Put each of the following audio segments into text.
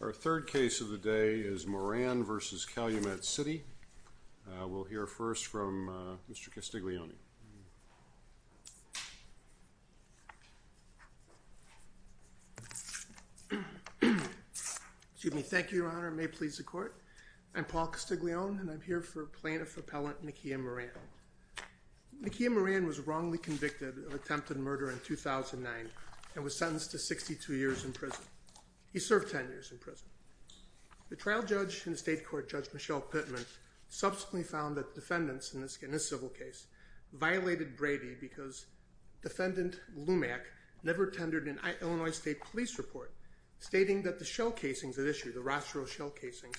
Our third case of the day is Moran v. Calumet City. We'll hear first from Mr. Castiglione. Excuse me. Thank you, your honor. May it please the court. I'm Paul Castiglione and I'm here for plaintiff appellant Nakiya Moran. Nakiya Moran was wrongly convicted of attempted murder in 2009 and was sentenced to 62 years in prison. He served 10 years in prison. The trial judge and state court judge Michelle Pittman subsequently found that defendants in this civil case violated Brady because defendant Lumack never tendered an Illinois state police report stating that the shell casings at issue, the Rossero shell casings,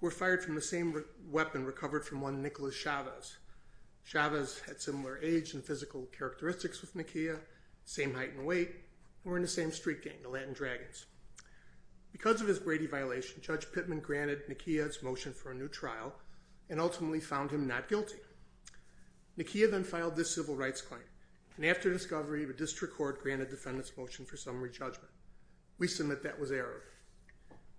were fired from the same weapon recovered from one Nicholas Chavez. Chavez had similar age and physical characteristics with Nakiya, same height and weight, were in the same street gang, the Latin Dragons. Because of his Brady violation, Judge Pittman granted Nakiya's motion for a new trial and ultimately found him not guilty. Nakiya then filed this civil rights claim and after discovery the district court granted defendants motion for summary judgment. We submit that was errored.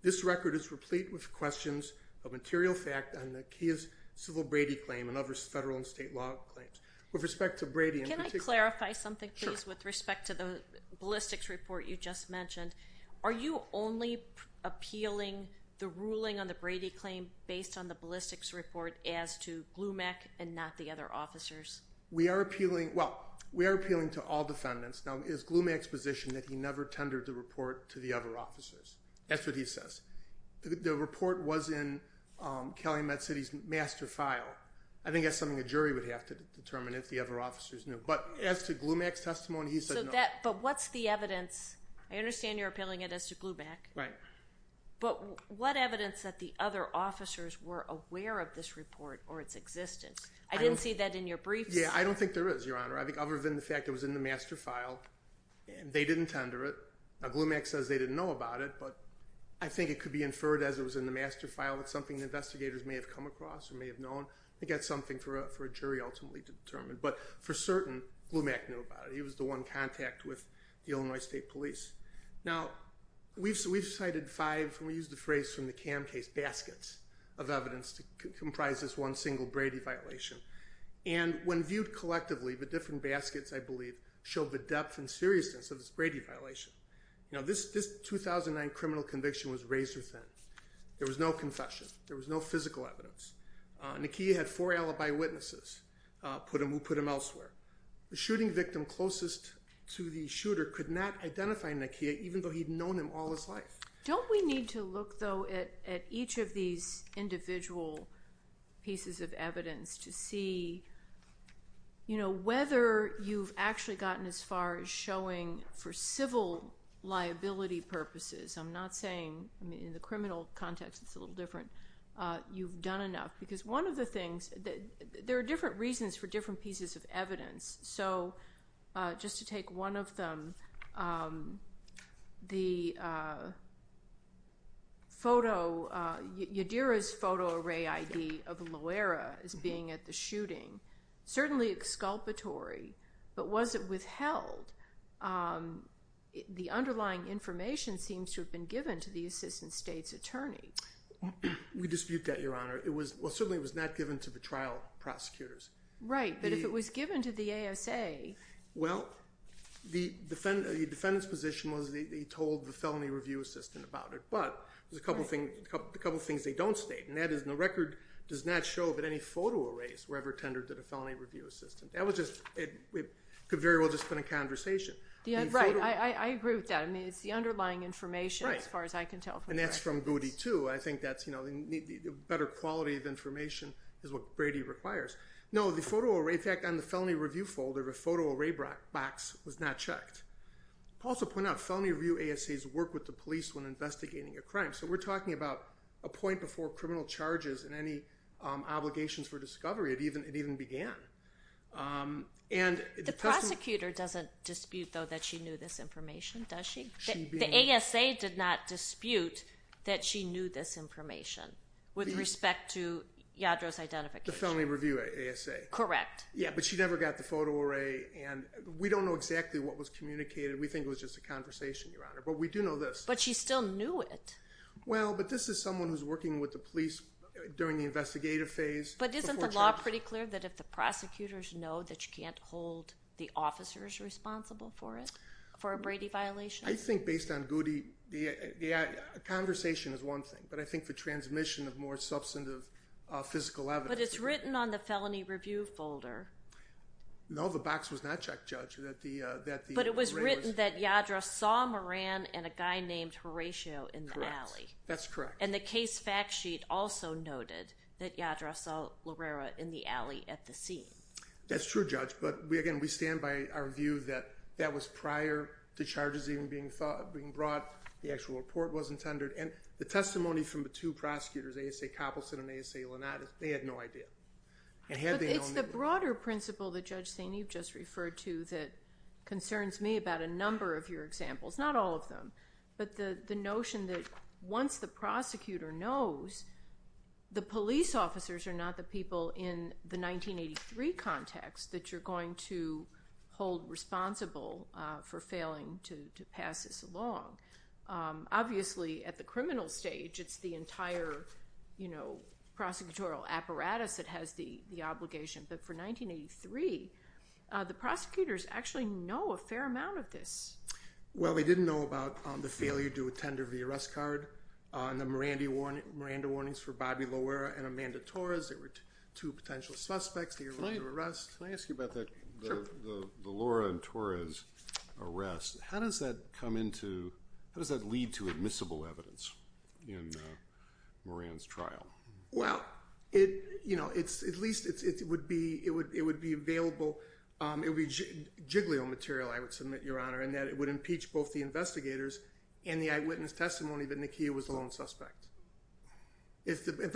This record is replete with questions of material fact on Nakiya's civil Brady claim and other federal and state law claims. With respect to Brady... Can I clarify something with respect to the ballistics report you just mentioned? Are you only appealing the ruling on the Brady claim based on the ballistics report as to Lumack and not the other officers? We are appealing... Well, we are appealing to all defendants. Now is Lumack's position that he never tendered the report to the other officers? That's what he says. The report was in Calumet City's master file. I think that's something a jury would have to determine if the other officers knew. But as to Lumack's testimony, he said no. But what's the evidence... I understand you're appealing it as to Lumack. Right. But what evidence that the other officers were aware of this report or its existence? I didn't see that in your briefs. Yeah, I don't think there is, Your Honor. I think other than the fact it was in the master file and they didn't tender it. Now Lumack says they didn't know about it, but I think it could be inferred as it was in the master file. It's something investigators may have come across or may have known. I think that's something for a jury ultimately to determine. But for certain, Lumack knew about it. He was the one in contact with the Illinois State Police. Now we've cited five, and we used the phrase from the CAM case, baskets of evidence to comprise this one single Brady violation. And when viewed collectively, the different baskets, I believe, show the depth and seriousness of this Brady violation. Now this 2009 criminal conviction was razor thin. There was no confession. There was no physical evidence. Nakia had four alibi witnesses who put him elsewhere. The shooting victim closest to the shooter could not identify Nakia even though he'd known him all his life. Don't we need to look, though, at each of these individual pieces of evidence to see you know whether you've actually gotten as far as showing for civil liability purposes. I'm not one of the things that there are different reasons for different pieces of evidence. So just to take one of them, Yadira's photo array ID of Loera as being at the shooting, certainly exculpatory, but was it withheld? The underlying information seems to have been given to the assistant state's attorney. We dispute that, Your Honor. Well, certainly it was not given to the trial prosecutors. Right, but if it was given to the ASA. Well, the defendant's position was that he told the felony review assistant about it, but there's a couple of things they don't state, and that is the record does not show that any photo arrays were ever tendered to the felony review assistant. That was just, it could very well have just been a And that's from Goody, too. I think that's, you know, better quality of information is what Brady requires. No, the photo array, in fact, on the felony review folder, the photo array box was not checked. I'll also point out, felony review ASAs work with the police when investigating a crime, so we're talking about a point before criminal charges and any obligations for discovery had even began. The prosecutor doesn't dispute, though, that she knew this information, does she? The ASA did not dispute that she knew this information with respect to Yadro's identification. The felony review ASA. Correct. Yeah, but she never got the photo array, and we don't know exactly what was communicated. We think it was just a conversation, Your Honor, but we do know this. But she still knew it. Well, but this is someone who's working with the police during the investigative phase. But isn't the law pretty clear that if the prosecutors know that you can't hold the officers responsible for it, for a Brady violation? I think based on Goody, conversation is one thing, but I think the transmission of more substantive physical evidence. But it's written on the felony review folder. No, the box was not checked, Judge. But it was written that Yadro saw Moran and a guy named Horatio in the alley. That's correct. And the case fact sheet also noted that Yadro saw Lorera in the alley at the scene. That's true, Judge. But again, we stand by our view that that was prior to charges even being brought. The actual report wasn't tendered. And the testimony from the two prosecutors, ASA Coppelson and ASA Lonato, they had no idea. But it's the broader principle that Judge St. Eve just referred to that concerns me about a number of your examples. Not all of them, but the notion that once the prosecutor knows, the police officers are not the people in the 1983 context that you're going to hold responsible for failing to pass this along. Obviously, at the criminal stage, it's the entire prosecutorial apparatus that has the obligation. But for 1983, the prosecutors actually know a fair amount of this. Well, they didn't know about the failure to attend to the arrest card, the Miranda warnings for Bobby Lorera and Amanda Torres. They were two potential suspects. Can I ask you about the Lora and Torres arrest? How does that lead to admissible evidence in Moran's trial? Well, it would be available. It would be jiggly on material, I would submit, Your Honor, in that it would impeach both the investigators and the eyewitness testimony that Nakia was the lone suspect. How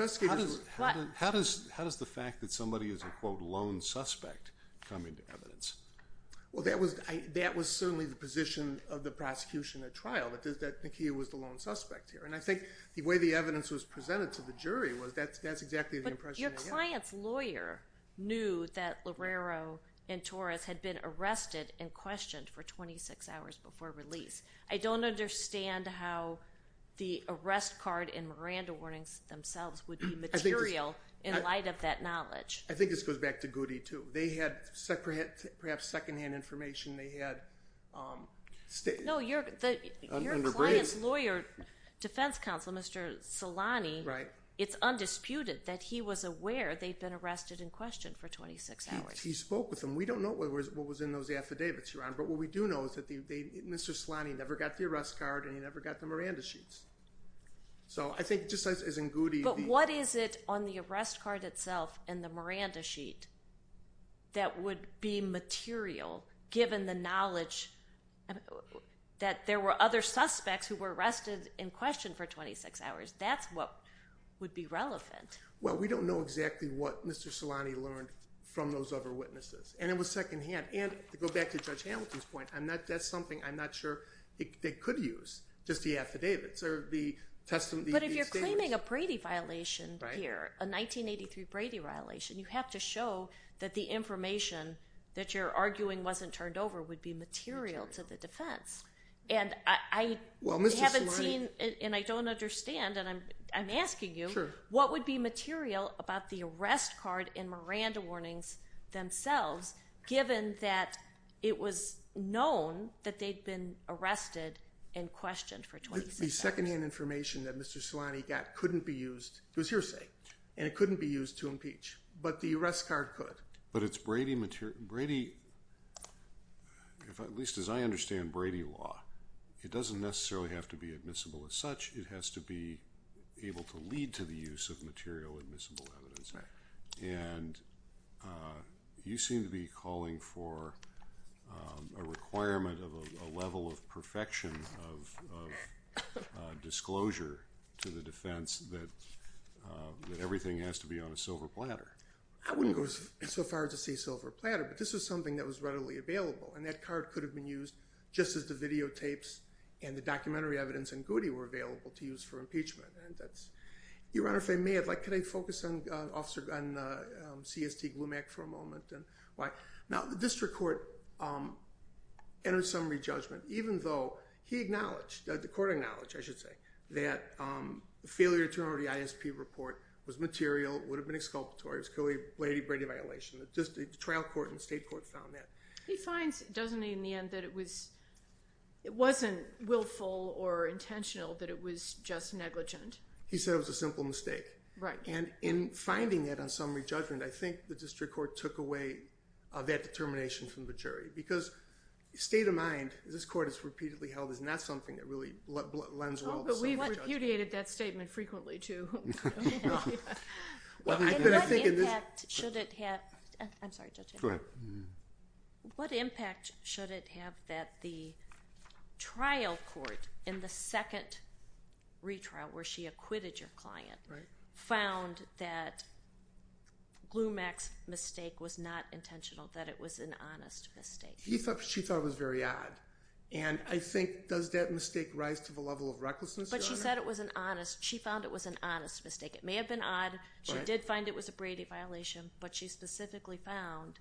does the fact that somebody is a, quote, lone suspect come into evidence? Well, that was certainly the position of the prosecution at trial, that Nakia was the lone suspect here. And I think the way the evidence was presented to the jury was that's exactly the impression I had. But your client's lawyer knew that Lorero and Torres had been arrested and questioned for 26 hours before release. I don't understand how the arrest card and Miranda warnings themselves would be material in light of that knowledge. I think this goes back to Goody, too. They had perhaps secondhand information. They had No, your client's lawyer, defense counsel, Mr. Solani, it's undisputed that he was aware they'd been arrested and questioned for 26 hours. He spoke with them. We don't know what was in those affidavits, Your Honor. But what we do know is that Mr. Solani never got the arrest card and he never got the Miranda sheets. So I think just as in Goody... But what is it on the arrest card itself and the Miranda sheet that would be material given the knowledge that there were other suspects who were arrested and questioned for 26 hours? That's what would be relevant. Well, we don't know exactly what Mr. Solani learned from those other witnesses. And it was secondhand. And to go back to Judge Hamilton's point, that's something I'm not sure they could use, just the affidavits or the testimony... But if you're claiming a Brady violation here, a 1983 Brady violation, you have to show that the information that you're arguing wasn't turned over would be material to the defense. And I haven't seen, and I don't understand, and I'm asking you, what would be material about the arrest card and Miranda warnings themselves given that it was known that they'd been arrested and questioned for 26 hours? The secondhand information that Mr. Solani got couldn't be used, it was hearsay, and it couldn't be used to impeach. But the arrest card could. But it's Brady material... At least as I understand Brady law, it doesn't necessarily have to be admissible as such. It has to be able to lead to the use of material admissible evidence. And you seem to be calling for a requirement of a level of perfection of disclosure to the defense that everything has to be on a silver platter. I wouldn't go so far as to say silver platter, but this was something that was readily available. And that card could have been used just as the videotapes and the documentary evidence and Goody were available to use for impeachment. Your Honor, if I may, could I focus on CST Glumak for a moment? Now, the district court entered some re-judgment, even though he acknowledged, the court acknowledged, I should say, that the failure to remember the ISP report was material, would have been exculpatory, it was clearly a Brady violation. The trial court and state court found that. He finds, doesn't he, in the end that it wasn't willful or intentional, that it was just negligent. He said it was a simple mistake. Right. And in finding that on summary judgment, I think the district court took away that determination from the jury, because state of mind, this court has repeatedly held, is not something that really lends well to summary judgment. Oh, but we've repudiated that statement frequently, too. Well, I could have taken this. And what impact should it have, I'm sorry, Judge, go ahead. What impact should it have that the trial court, in the second retrial where she acquitted your client, found that Glumak's mistake was not intentional, that it was an honest mistake? She thought it was very odd. And I think, does that mistake rise to the level of recklessness? But she said it was an honest, she found it was an honest mistake. It may have been odd, she did find it was a Brady violation, but she specifically found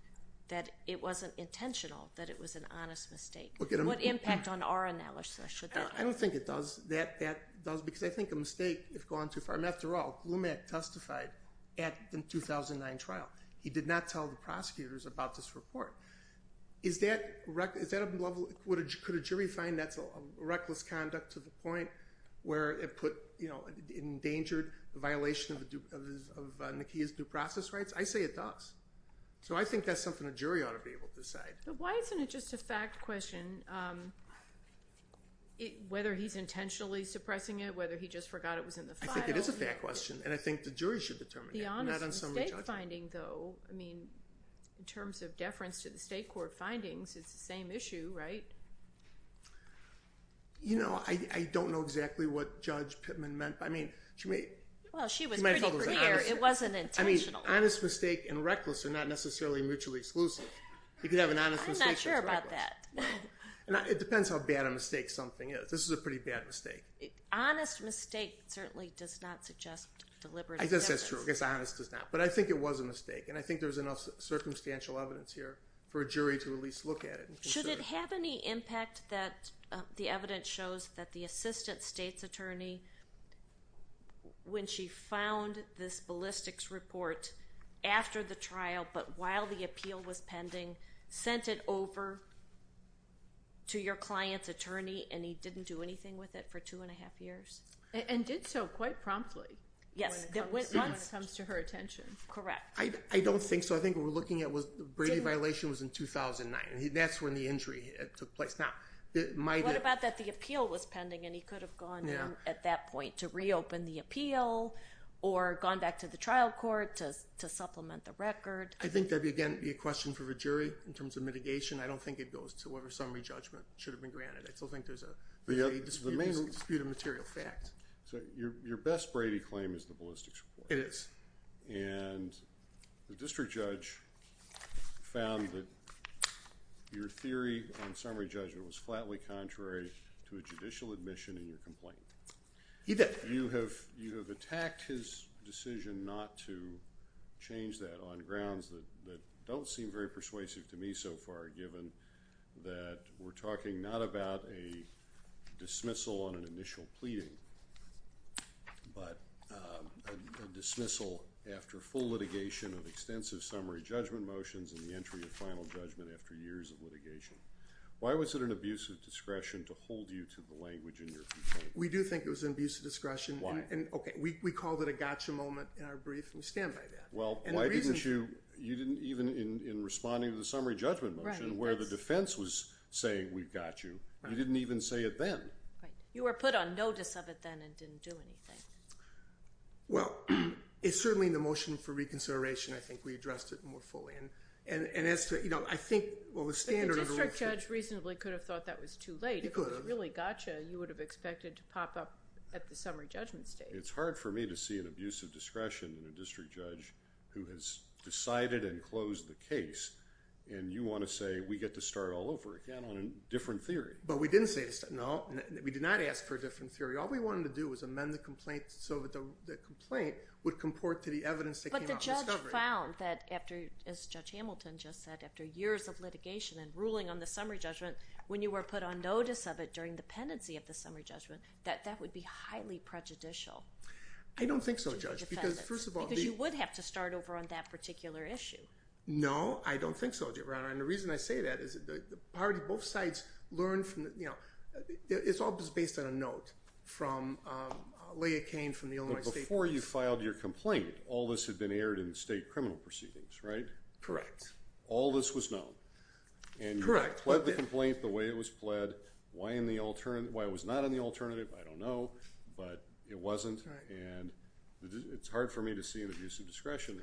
that it wasn't intentional, that it was an honest mistake. What impact on our analysis should that have? I don't think it does, that does, because I think a mistake, if gone too far, and after all, Glumak testified at the 2009 trial. He did not tell the prosecutors about this report. Is that a level, could a jury find that's a reckless conduct to the point where it put, you know, it endangered the violation of Nakia's due process rights? I say it does. So I think that's something a jury ought to be able to decide. But why isn't it just a fact question, whether he's intentionally suppressing it, whether he just forgot it was in the file? I think it is a fact question, and I think the jury should determine it. The honest mistake finding, though, I mean, in terms of deference to the state court findings, it's the same issue, right? You know, I don't know exactly what Judge Pittman meant by, I mean, she may... Well, she was pretty clear, it wasn't intentional. I mean, honest mistake and reckless are not necessarily mutually exclusive. You could have an honest mistake... I'm not sure about that. It depends how bad a mistake something is. This is a pretty bad mistake. Honest mistake certainly does not suggest deliberate... I guess that's true. I guess honest does not. But I think it was a mistake, and I think there's enough circumstantial evidence here for a jury to at least look at it. Should it have any impact that the evidence shows that the assistant state's attorney, when she found this ballistics report after the trial, but while the appeal was pending, sent it over to your client's attorney, and he didn't do anything with it for two and a half years? And did so quite promptly when it comes to her attention. Correct. I don't think so. I think what we're looking at was the Brady violation was in 2009, and that's when the injury took place. Now, my... What about that the appeal was pending, and he could have gone in at that time? To reopen the appeal, or gone back to the trial court to supplement the record? I think that would, again, be a question for the jury in terms of mitigation. I don't think it goes to whatever summary judgment should have been granted. I still think there's a dispute of material fact. So your best Brady claim is the ballistics report? It is. And the district judge found that your theory on summary judgment was flatly contrary to a judicial admission in your complaint. He did. You have attacked his decision not to change that on grounds that don't seem very persuasive to me so far, given that we're talking not about a dismissal on an initial pleading, but a dismissal after full litigation of extensive summary judgment motions and the entry of final judgment after years of litigation. Why was it an abuse of discretion to hold you to the language in your complaint? We do think it was an abuse of discretion. Why? And, okay, we called it a gotcha moment in our brief, and we stand by that. Well, why didn't you... You didn't even, in responding to the summary judgment motion, where the defense was saying we've got you, you didn't even say it then. Right. You were put on notice of it then and didn't do anything. Well, it's certainly in the motion for reconsideration. I think we addressed it more fully. And as to, you know, I think... Well, the standard... The district judge reasonably could have thought that was too late. He could have. If it was really gotcha, you would have expected to pop up at the summary judgment stage. It's hard for me to see an abuse of discretion in a district judge who has decided and closed the case, and you want to say we get to start all over again on a different theory. But we didn't say... No. We did not ask for a different theory. All we wanted to do was amend the complaint so that the complaint would comport to the evidence that came off discovery. We found that after, as Judge Hamilton just said, after years of litigation and ruling on the summary judgment, when you were put on notice of it during the pendency of the summary judgment, that that would be highly prejudicial. I don't think so, Judge, because first of all... Because you would have to start over on that particular issue. No, I don't think so, Your Honor. And the reason I say that is that the party, both sides learned from, you know, it's all just based on a note from Leah Kane from the Illinois State Police. Before you filed your complaint, all this had been aired in state criminal proceedings, right? Correct. All this was known. Correct. And you pled the complaint the way it was pled. Why in the alternative... Why it was not in the alternative, I don't know, but it wasn't. And it's hard for me to see an abuse of discretion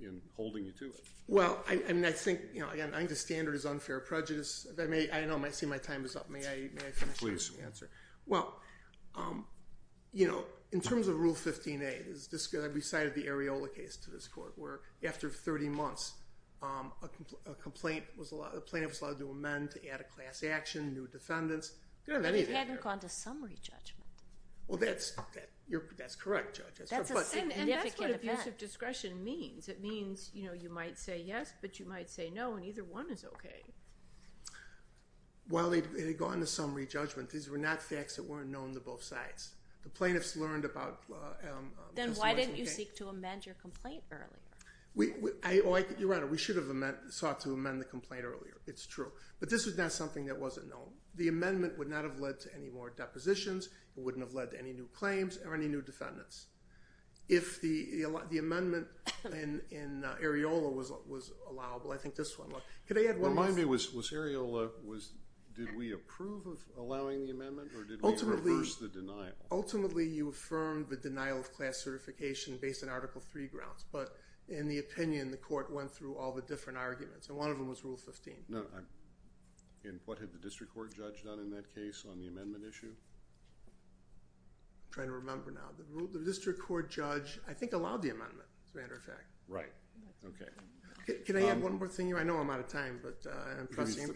in holding you to it. Well, I mean, I think, you know, again, I think the standard is unfair prejudice. I know, I see my time is up. May I finish? Please. Well, you know, in terms of Rule 15a, I recited the Areola case to this court, where after 30 months, a complaint was allowed... A plaintiff was allowed to amend to add a class action, new defendants. You don't have anything there. And it hadn't gone to summary judgment. Well, that's... That's correct, Judge. That's a significant effect. And that's what abuse of discretion means. It means, you know, you might say yes, but you might say no, and either one is okay. Well, it had gone to summary judgment. These were not facts that weren't known to both sides. The plaintiffs learned about... Then why didn't you seek to amend your complaint earlier? We... Your Honor, we should have sought to amend the complaint earlier. It's true. But this was not something that wasn't known. The amendment would not have led to any more depositions, it wouldn't have led to any new claims or any new defendants. If the amendment in Areola was allowable, I think this one... Remind me, was Areola... Did we approve of allowing the amendment, or did we reverse the denial? Ultimately, you affirmed the denial of class certification based on Article III grounds. But in the opinion, the court went through all the different arguments, and one of them was Rule 15. No, I'm... And what had the district court judge done in that case on the amendment issue? I'm trying to remember now. The district court judge, I think, allowed the amendment, as a matter of fact. Right. Okay. Can I add one more thing here? I know I'm out of time, but I'm trusting...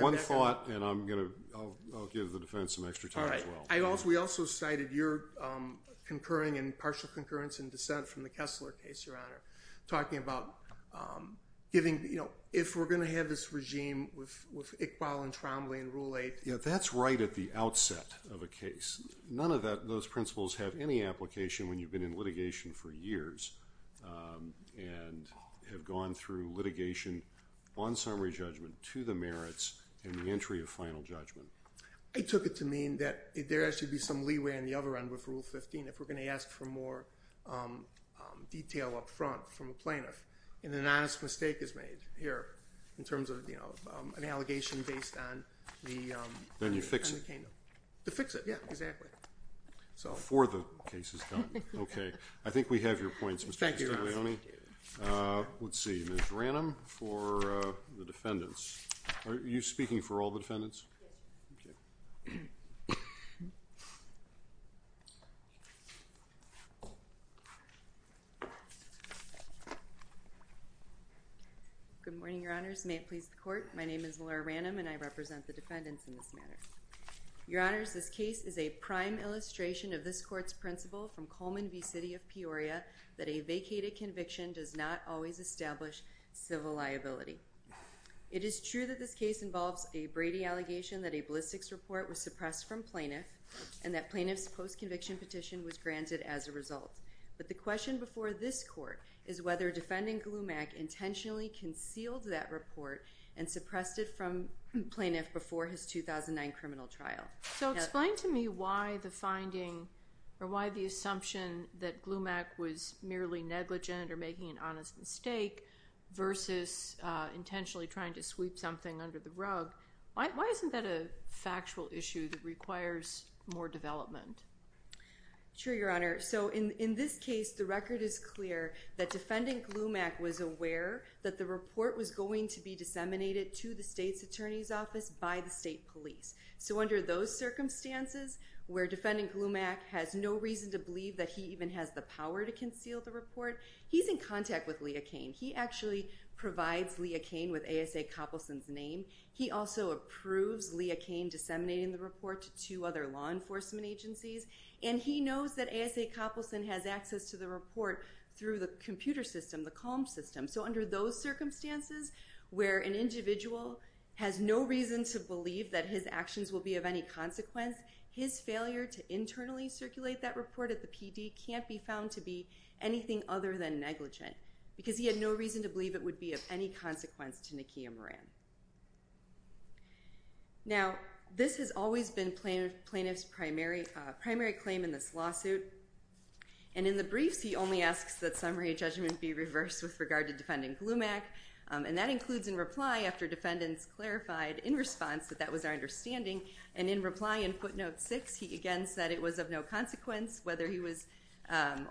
One thought, and I'll give the defense some extra time as well. We also cited your concurring and partial concurrence and dissent from the Kessler case, Your Honor, talking about giving... If we're going to have this regime with Iqbal and Trombley and Rule 8... Yeah, that's right at the outset of a case. None of those principles have any application when you've been in litigation for years and have gone through litigation on summary judgment to the merits and the entry of final judgment. I took it to mean that there actually be some leeway on the other end with Rule 15 if we're going to ask for more detail up front from a plaintiff, and an honest mistake is made here in terms of an allegation based on the... Then you fix it. To fix it, yeah, exactly. Before the case is done. Okay. I think we have your points, Mr. Castaglione. Thank you, Your Honor. Let's see. Ms. Ranum for the defendants. Are you speaking for all the defendants? Yes. Good morning, Your Honors. May it please the court. My name is Laura Ranum, and I represent the defendants in this matter. Your Honors, this case is a prime illustration of this court's principle from Coleman v. City of Peoria that a vacated conviction does not always establish civil liability. It is true that this case involves a Brady allegation that a ballistics report was suppressed from plaintiff and that plaintiff's post-conviction petition was granted as a result. But the question before this court is whether defendant Glumak intentionally concealed that report and suppressed it from plaintiff before his 2009 criminal trial. So explain to me why the finding or why the assumption that Glumak was merely negligent or making an honest mistake versus intentionally trying to sweep something under the rug. Why isn't that a factual issue that requires more development? Sure, Your Honor. So in this case, the record is clear that defendant Glumak was aware that the report was going to be disseminated to the state's attorney's office by the state police. So under those circumstances where defendant Glumak has no reason to believe that he even has the power to conceal the report, he's in contact with Leah Kane. He actually provides Leah Kane with A.S.A. Copleson's name. He also approves Leah Kane disseminating the report to two other law enforcement agencies. And he knows that A.S.A. Copleson has access to the report through the computer system, the CALM system. So under those circumstances where an individual has no reason to believe that his actions will be of any consequence, his failure to internally circulate that report at the PD can't be found to be anything other than negligent because he had no reason to believe it would be of any consequence to Nakia Moran. Now, this has always been plaintiff's primary claim in this lawsuit. And in the briefs, he only asks that summary judgment be reversed with regard to defendant Glumak. And that includes in reply after defendants clarified in response that that was our understanding. And in reply in footnote six, he again said it was of no consequence whether he was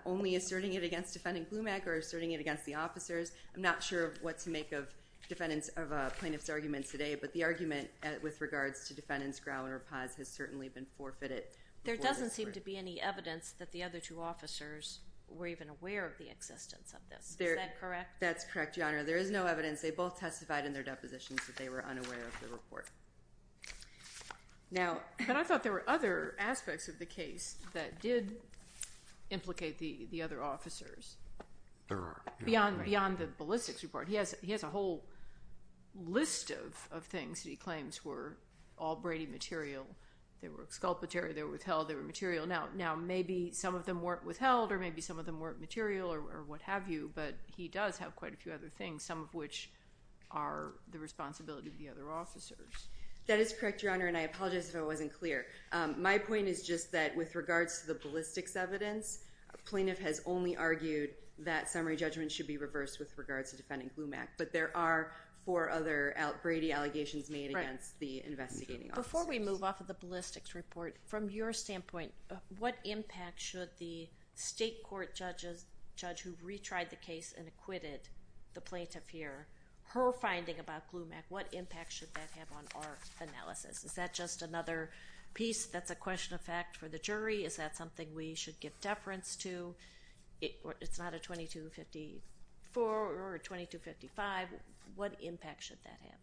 only asserting it against defendant Glumak or asserting it against the officers. I'm not sure what to make of plaintiff's arguments today, but the argument with regards to defendants Grau and Rapaz has certainly been forfeited. There doesn't seem to be any evidence that the other two officers Is that correct? That's correct, Your Honor. There is no evidence. They both testified in their depositions that they were unaware of the report. But I thought there were other aspects of the case that did implicate the other officers. There are. Beyond the ballistics report, he has a whole list of things that he claims were all Brady material. They were exculpatory. They were withheld. They were material. Now, maybe some of them weren't withheld or maybe some of them weren't material or what have you. But he does have quite a few other things, some of which are the responsibility of the other officers. That is correct, Your Honor. And I apologize if I wasn't clear. My point is just that with regards to the ballistics evidence, a plaintiff has only argued that summary judgment should be reversed with regards to defendant Glumak. But there are four other Brady allegations made against the investigating officers. Before we move off of the ballistics report, from your standpoint, what impact should the state court judge who retried the case and acquitted the plaintiff here, her finding about Glumak, what impact should that have on our analysis? Is that just another piece that's a question of fact for the jury? Is that something we should give deference to? It's not a 2254 or 2255. What impact should that have?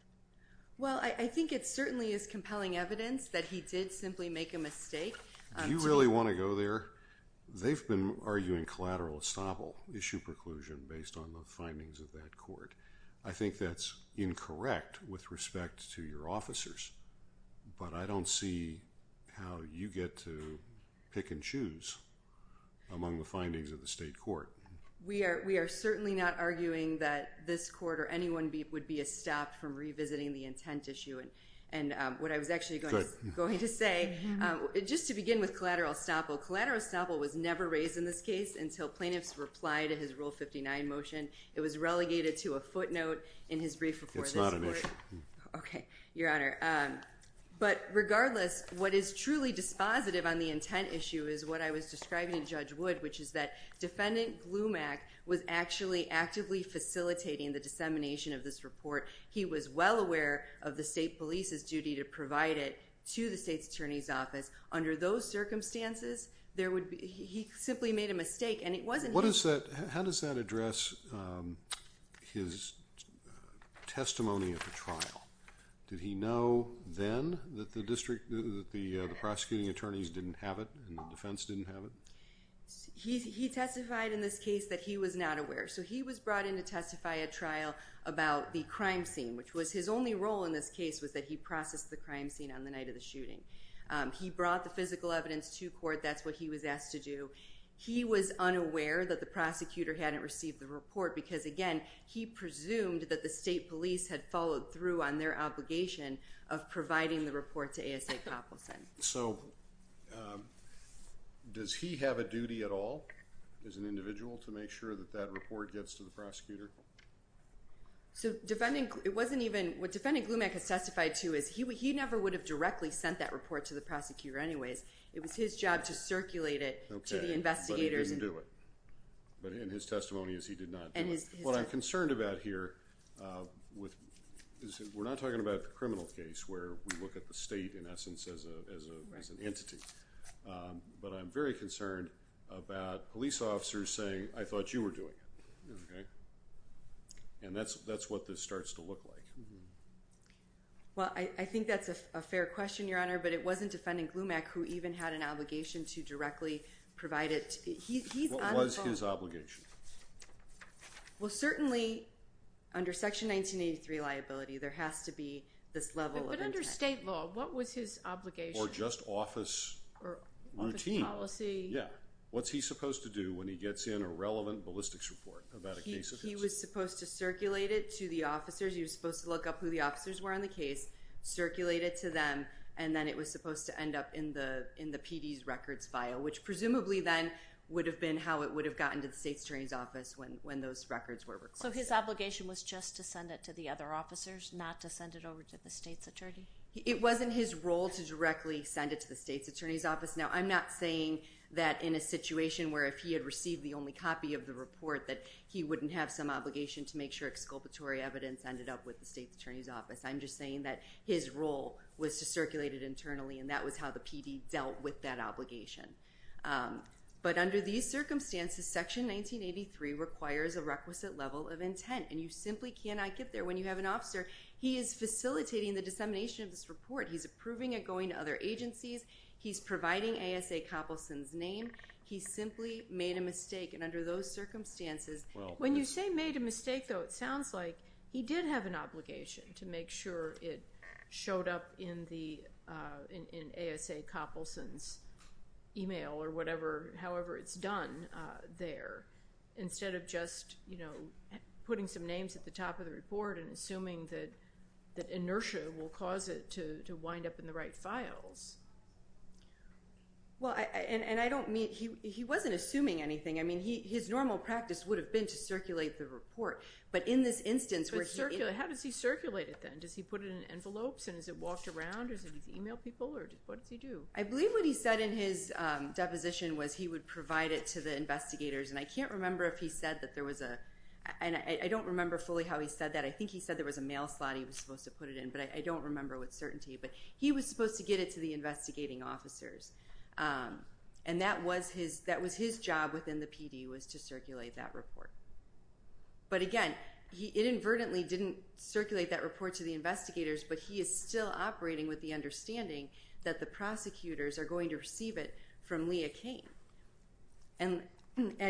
Well, I think it certainly is compelling evidence that he did simply make a mistake. Do you really want to go there? They've been arguing collateral estoppel issue preclusion based on the findings of that court. I think that's incorrect with respect to your officers. But I don't see how you get to pick and choose among the findings of the state court. We are certainly not arguing that this court or anyone would be stopped from revisiting the intent issue. And what I was actually going to say, just to begin with collateral estoppel, collateral estoppel was never raised in this case until plaintiffs replied to his rule 59 motion. It was relegated to a footnote in his brief report. It's not an issue. Okay, your honor. But regardless, what is truly dispositive on the intent issue is what I was describing to Judge Wood, which is that defendant Glumak was actually actively facilitating the dissemination of this report. to provide it to the state's attorney's office. Under those circumstances, he simply made a mistake. How does that address his testimony at the trial? Did he know then that the prosecuting attorneys didn't have it and the defense didn't have it? He testified in this case that he was not aware. So he was brought in to testify at trial about the crime scene, which was his only role in this case was that he processed the crime scene on the night of the shooting. He brought the physical evidence to court. That's what he was asked to do. He was unaware that the prosecutor hadn't received the report because again, he presumed that the state police had followed through on their obligation of providing the report to A.S.A. Coppelson. So does he have a duty at all as an individual to make sure that that report gets to the prosecutor? What defendant Glumak has testified to he never would have directly sent that report to the prosecutor anyways. It was his job to circulate it to the investigators. Okay, but he didn't do it. But in his testimony, he did not do it. What I'm concerned about here, we're not talking about the criminal case where we look at the state in essence as an entity, but I'm very concerned about police officers saying, I thought you were doing it. And that's what this starts to look like. Well, I think that's a fair question, Your Honor. But it wasn't defendant Glumak who even had an obligation to directly provide it. What was his obligation? Well, certainly under Section 1983 liability, there has to be this level of intent. But under state law, what was his obligation? Or just office routine. Office policy. Yeah. What's he supposed to do when he gets in a relevant ballistics report about a case of his? He was supposed to circulate it to the officers. He was supposed to look up who the officers were on the case, circulate it to them. And then it was supposed to end up in the PD's records file, which presumably then would have been how it would have gotten to the state's attorney's office when those records were requested. So his obligation was just to send it to the other officers, not to send it over to the state's attorney? It wasn't his role to directly send it to the state's attorney's office. Now, I'm not saying that in a situation where if he had received the only copy of the report, that he wouldn't have some obligation to make sure exculpatory evidence ended up with the state's attorney's office. I'm just saying that his role was to circulate it internally. And that was how the PD dealt with that obligation. But under these circumstances, Section 1983 requires a requisite level of intent. And you simply cannot get there. When you have an officer, he is facilitating the dissemination of this report. He's approving it, going to other agencies. He's providing ASA Copleson's name. He simply made a mistake. And under those circumstances, When you say made a mistake, though, it sounds like he did have an obligation to make sure it showed up in ASA Copleson's email or however it's done there, instead of just putting some names at the top of the report and assuming that inertia will cause it to wind up in the right files. Well, and I don't mean he wasn't assuming anything. His normal practice would have been to circulate the report. But in this instance, where he- How does he circulate it, then? Does he put it in envelopes? And is it walked around? Or does he email people? Or what does he do? I believe what he said in his deposition was he would provide it to the investigators. And I can't remember if he said that there was a- and I don't remember fully how he said that. I think he said there was a mail slot he was supposed to put it in. But I don't remember with certainty. But he was supposed to get it to the investigating officers. And that was his job within the PD, was to circulate that report. But again, he inadvertently didn't circulate that report to the investigators. But he is still operating with the understanding that the prosecutors are going to receive it from Leah Kane. And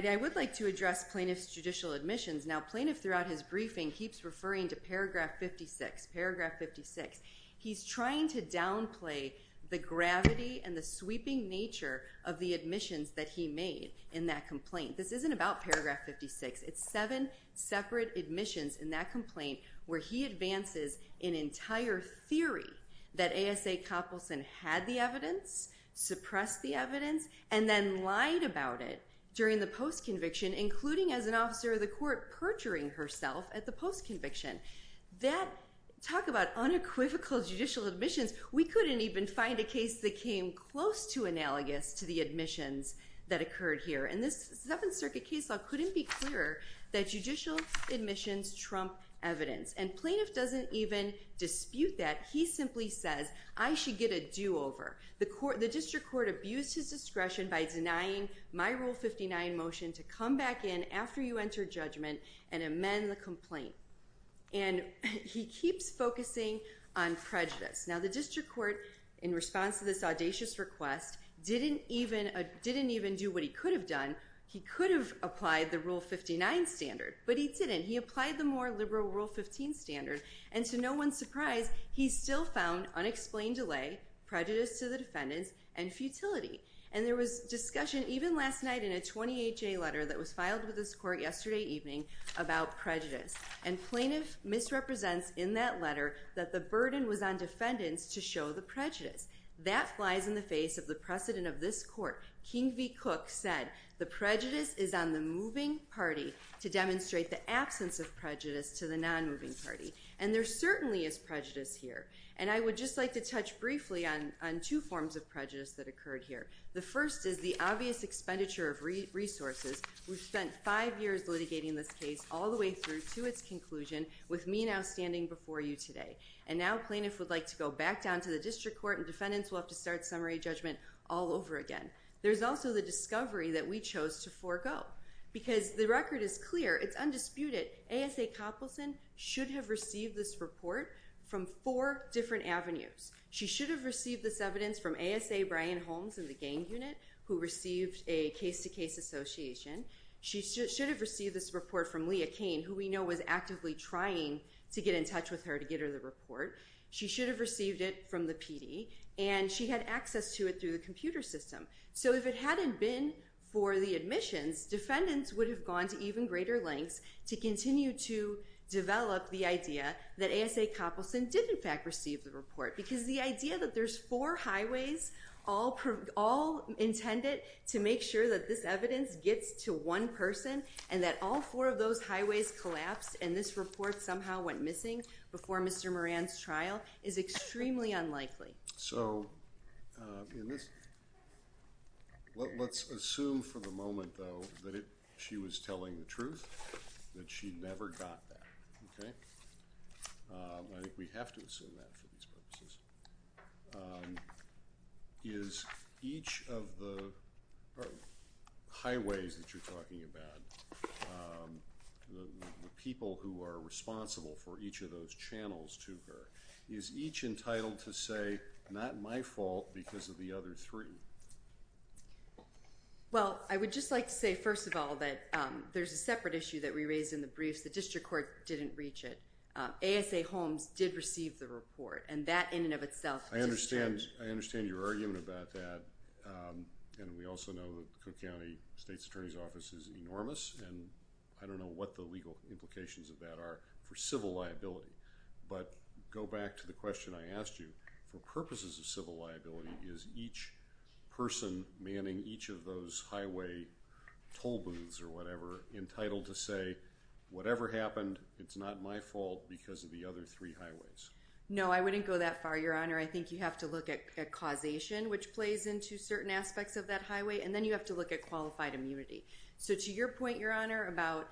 I would like to address plaintiff's judicial admissions. Now, plaintiff throughout his briefing He's trying to downplay the gravity and the sweeping nature of the admissions that he made in that complaint. This isn't about paragraph 56. It's seven separate admissions in that complaint where he advances an entire theory that A.S.A. Copleson had the evidence, suppressed the evidence, and then lied about it during the post-conviction, including as an officer of the court, perjuring herself at the post-conviction. That- talk about unequivocal judicial admissions. We couldn't even find a case that came close to analogous to the admissions that occurred here. And this Seventh Circuit case law couldn't be clearer that judicial admissions trump evidence. And plaintiff doesn't even dispute that. He simply says, I should get a do-over. The district court abused his discretion by denying my Rule 59 motion to come back in after you enter judgment and amend the complaint. And he keeps focusing on prejudice. Now the district court, in response to this audacious request, didn't even do what he could have done. He could have applied the Rule 59 standard, but he didn't. He applied the more liberal Rule 15 standard. And to no one's surprise, he still found unexplained delay, prejudice to the defendants, and futility. And there was discussion, even last night in a 28-J letter that was filed with this court yesterday evening, about prejudice. And plaintiff misrepresents in that letter that the burden was on defendants to show the prejudice. That flies in the face of the precedent of this court. King v. Cook said, the prejudice is on the moving party to demonstrate the absence of prejudice to the non-moving party. And there certainly is prejudice here. And I would just like to touch briefly on two forms of prejudice that occurred here. The first is the obvious expenditure of resources. We've spent five years litigating this case all the way through to its conclusion, with me now standing before you today. And now plaintiff would like to go back down to the district court, and defendants will have to start summary judgment all over again. There's also the discovery that we chose to forego, because the record is clear. It's undisputed. A.S.A. Copleson should have received this report from four different avenues. She should have received this evidence from A.S.A. Brian Holmes in the gang unit, who received a case-to-case association. She should have received this report from Leah Kane, who we know was actively trying to get in touch with her to get her the report. She should have received it from the PD. And she had access to it through the computer system. So if it hadn't been for the admissions, defendants would have gone to even greater lengths to continue to develop the idea that A.S.A. Copleson did in fact receive the report. Because the idea that there's four highways, all intended to make sure that this evidence gets to one person, and that all four of those highways collapsed, and this report somehow went missing before Mr. Moran's trial, is extremely unlikely. So in this, let's assume for the moment though, that she was telling the truth, that she never got that, okay? I think we have to assume that for these purposes. Is each of the highways that you're talking about, the people who are responsible for each of those channels to her, is each entitled to say, not my fault because of the other three? Well, I would just like to say first of all, that there's a separate issue that we raised in the briefs. The district court didn't reach it. A.S.A. Holmes did receive the report. And that in and of itself is a challenge. I understand your argument about that. And we also know that Cook County State's Attorney's Office is enormous, and I don't know what the legal implications of that are for civil liability. But go back to the question I asked you. For purposes of civil liability, is each person manning each of those highway toll booths or whatever entitled to say, whatever happened, it's not my fault because of the other three highways? No, I wouldn't go that far, Your Honor. I think you have to look at causation, which plays into certain aspects of that highway. And then you have to look at qualified immunity. So to your point, Your Honor, about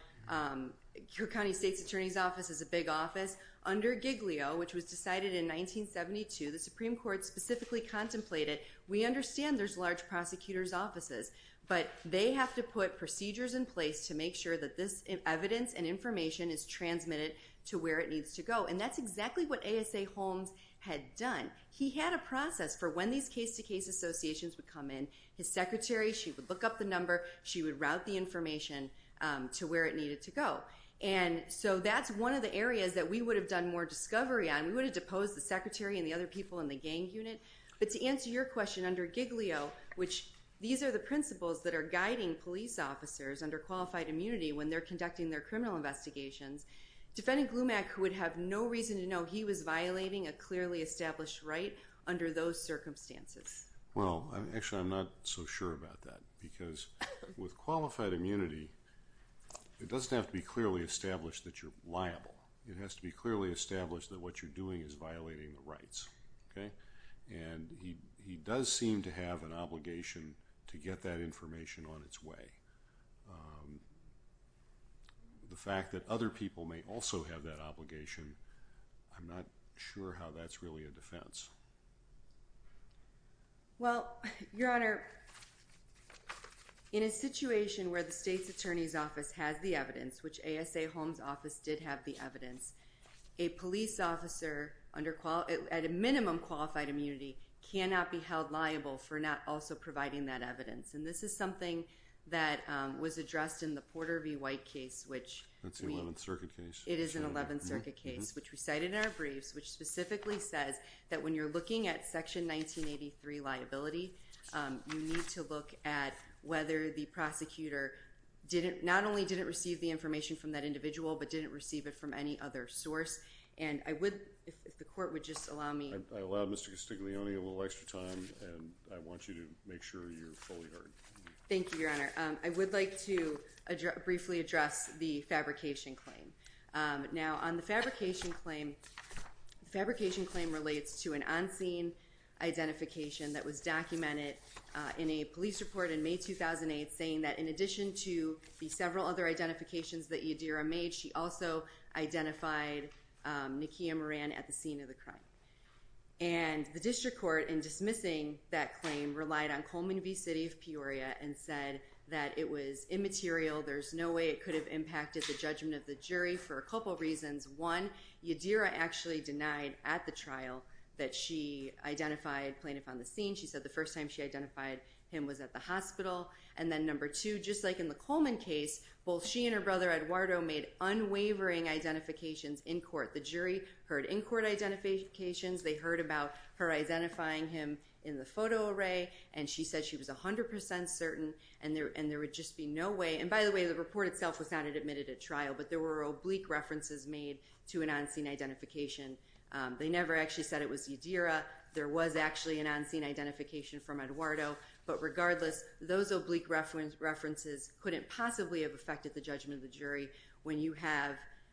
Cook County State's Attorney's Office is a big office. Under Giglio, which was decided in 1972, the Supreme Court specifically contemplated, we understand there's large prosecutor's offices, but they have to put procedures in place to make sure that this evidence and information is transmitted to where it needs to go. And that's exactly what A.S.A. Holmes had done. He had a process for when these case-to-case associations would come in. His secretary, she would look up the number, she would route the information to where it needed to go. And so that's one of the areas that we would have done more discovery on. We would have deposed the secretary and the other people in the gang unit. But to answer your question under Giglio, which these are the principles that are guiding police officers under qualified immunity when they're conducting their criminal investigations, Defendant Glumak would have no reason to know he was violating a clearly established right under those circumstances. Well, actually, I'm not so sure about that because with qualified immunity, it doesn't have to be clearly established that you're liable. It has to be clearly established that what you're doing is violating the rights, okay? And he does seem to have an obligation to get that information on its way. The fact that other people may also have that obligation, I'm not sure how that's really a defense. Well, Your Honor, in a situation where the state's attorney's office has the evidence, which ASA Holmes' office did have the evidence, a police officer at a minimum qualified immunity cannot be held liable for not also providing that evidence. And this is something that was addressed in the Porter v. White case, which- That's the 11th Circuit case. It is an 11th Circuit case, which we cited in our briefs, which specifically says that when you're looking at Section 1983 liability, you need to look at whether the prosecutor not only didn't receive the information from that individual, but didn't receive it from any other source. And I would, if the court would just allow me- I allow Mr. Castiglione a little extra time, and I want you to make sure you're fully heard. Thank you, Your Honor. I would like to briefly address the fabrication claim. Now, on the fabrication claim, the fabrication claim relates to an on-scene identification that was documented in a police report in May 2008, saying that in addition to the several other identifications that Yadira made, she also identified Nikia Moran at the scene of the crime. And the district court in dismissing that claim relied on Coleman v. City of Peoria and said that it was immaterial. There's no way it could have impacted the judgment of the jury for a couple reasons. One, Yadira actually denied at the trial that she identified plaintiff on the scene. She said the first time she identified him was at the hospital. And then number two, just like in the Coleman case, both she and her brother Eduardo made unwavering identifications in court. The jury heard in-court identifications. They heard about her identifying him in the photo array, and she said she was 100% certain, and by the way, the report itself was not admitted at trial, but there were oblique references made to an on-scene identification. They never actually said it was Yadira. There was actually an on-scene identification from Eduardo, but regardless, those oblique references couldn't possibly have affected the judgment of the jury when you have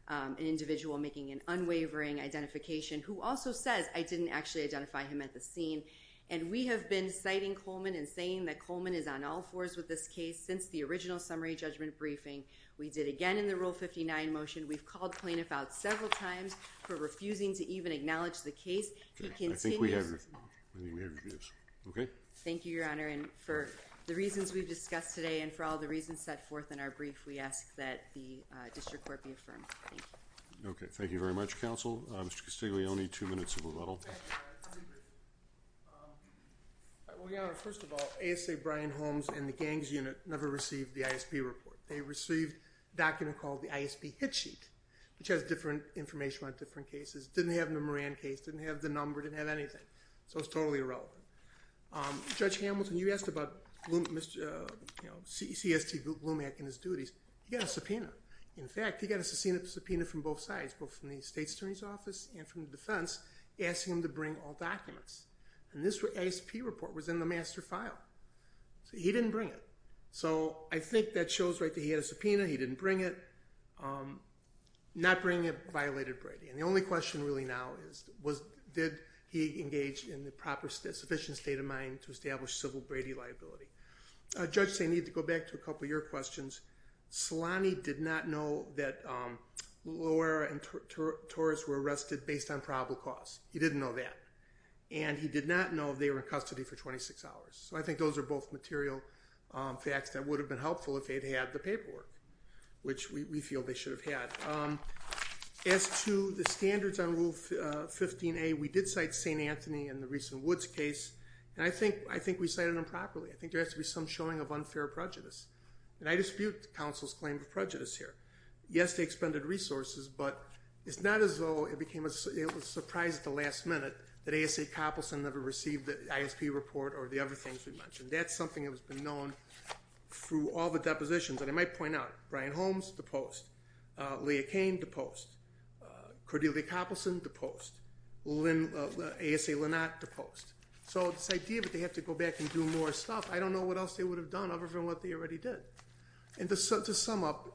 an individual making an unwavering identification who also says, I didn't actually identify him at the scene. And we have been citing Coleman and saying that Coleman is on all fours with this case since the original summary judgment briefing. We did again in the Rule 59 motion, we've called plaintiff out several times for refusing to even acknowledge the case. He continues- I think we have your views. Okay. Thank you, Your Honor. And for the reasons we've discussed today and for all the reasons set forth in our brief, we ask that the district court be affirmed. Thank you. Okay. Thank you very much, counsel. Mr. Castiglione, two minutes of rebuttal. Well, Your Honor, first of all, ASA Brian Holmes and the gangs unit never received the ISP report. They received a document called the ISP hit sheet, which has different information on different cases. Didn't have the Moran case, didn't have the number, didn't have anything. So it's totally irrelevant. Judge Hamilton, you asked about CST Blumach and his duties. He got a subpoena. In fact, he got a subpoena from both sides, both from the state's attorney's office and from the defense, asking him to bring all documents. And this ISP report was in the master file. So he didn't bring it. So I think that shows right that he had a subpoena. He didn't bring it. Not bringing it violated Brady. And the only question really now is, did he engage in the proper sufficient state of mind to establish civil Brady liability? Judge, I need to go back to a couple of your questions. Solani did not know that Loera and Torres were arrested based on probable cause. He didn't know that. And he did not know if they were in custody for 26 hours. So I think those are both material. Facts that would have been helpful if they'd had the paperwork, which we feel they should have had. As to the standards on Rule 15A, we did cite St. Anthony and the recent Woods case. And I think we cited them properly. I think there has to be some showing of unfair prejudice. And I dispute the council's claim of prejudice here. Yes, they expended resources, but it's not as though it became a surprise at the last minute that ASA Coppelson never received the ISP report or the other things we mentioned. That's something that has been known through all the depositions. And I might point out, Brian Holmes, deposed. Leah Kane, deposed. Cordelia Coppelson, deposed. ASA Linnott, deposed. So this idea that they have to go back and do more stuff, I don't know what else they would have done other than what they already did. And to sum up,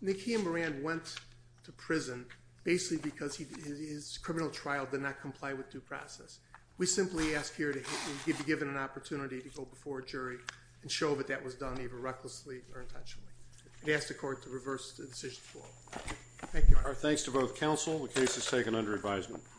Nicky and Moran went to prison basically because his criminal trial did not comply with due process. We simply ask here to be given an opportunity to go before a jury and show that that was done either recklessly or intentionally. We ask the court to reverse the decision. Thank you, Your Honor. Thanks to both counsel. The case is taken under advisement.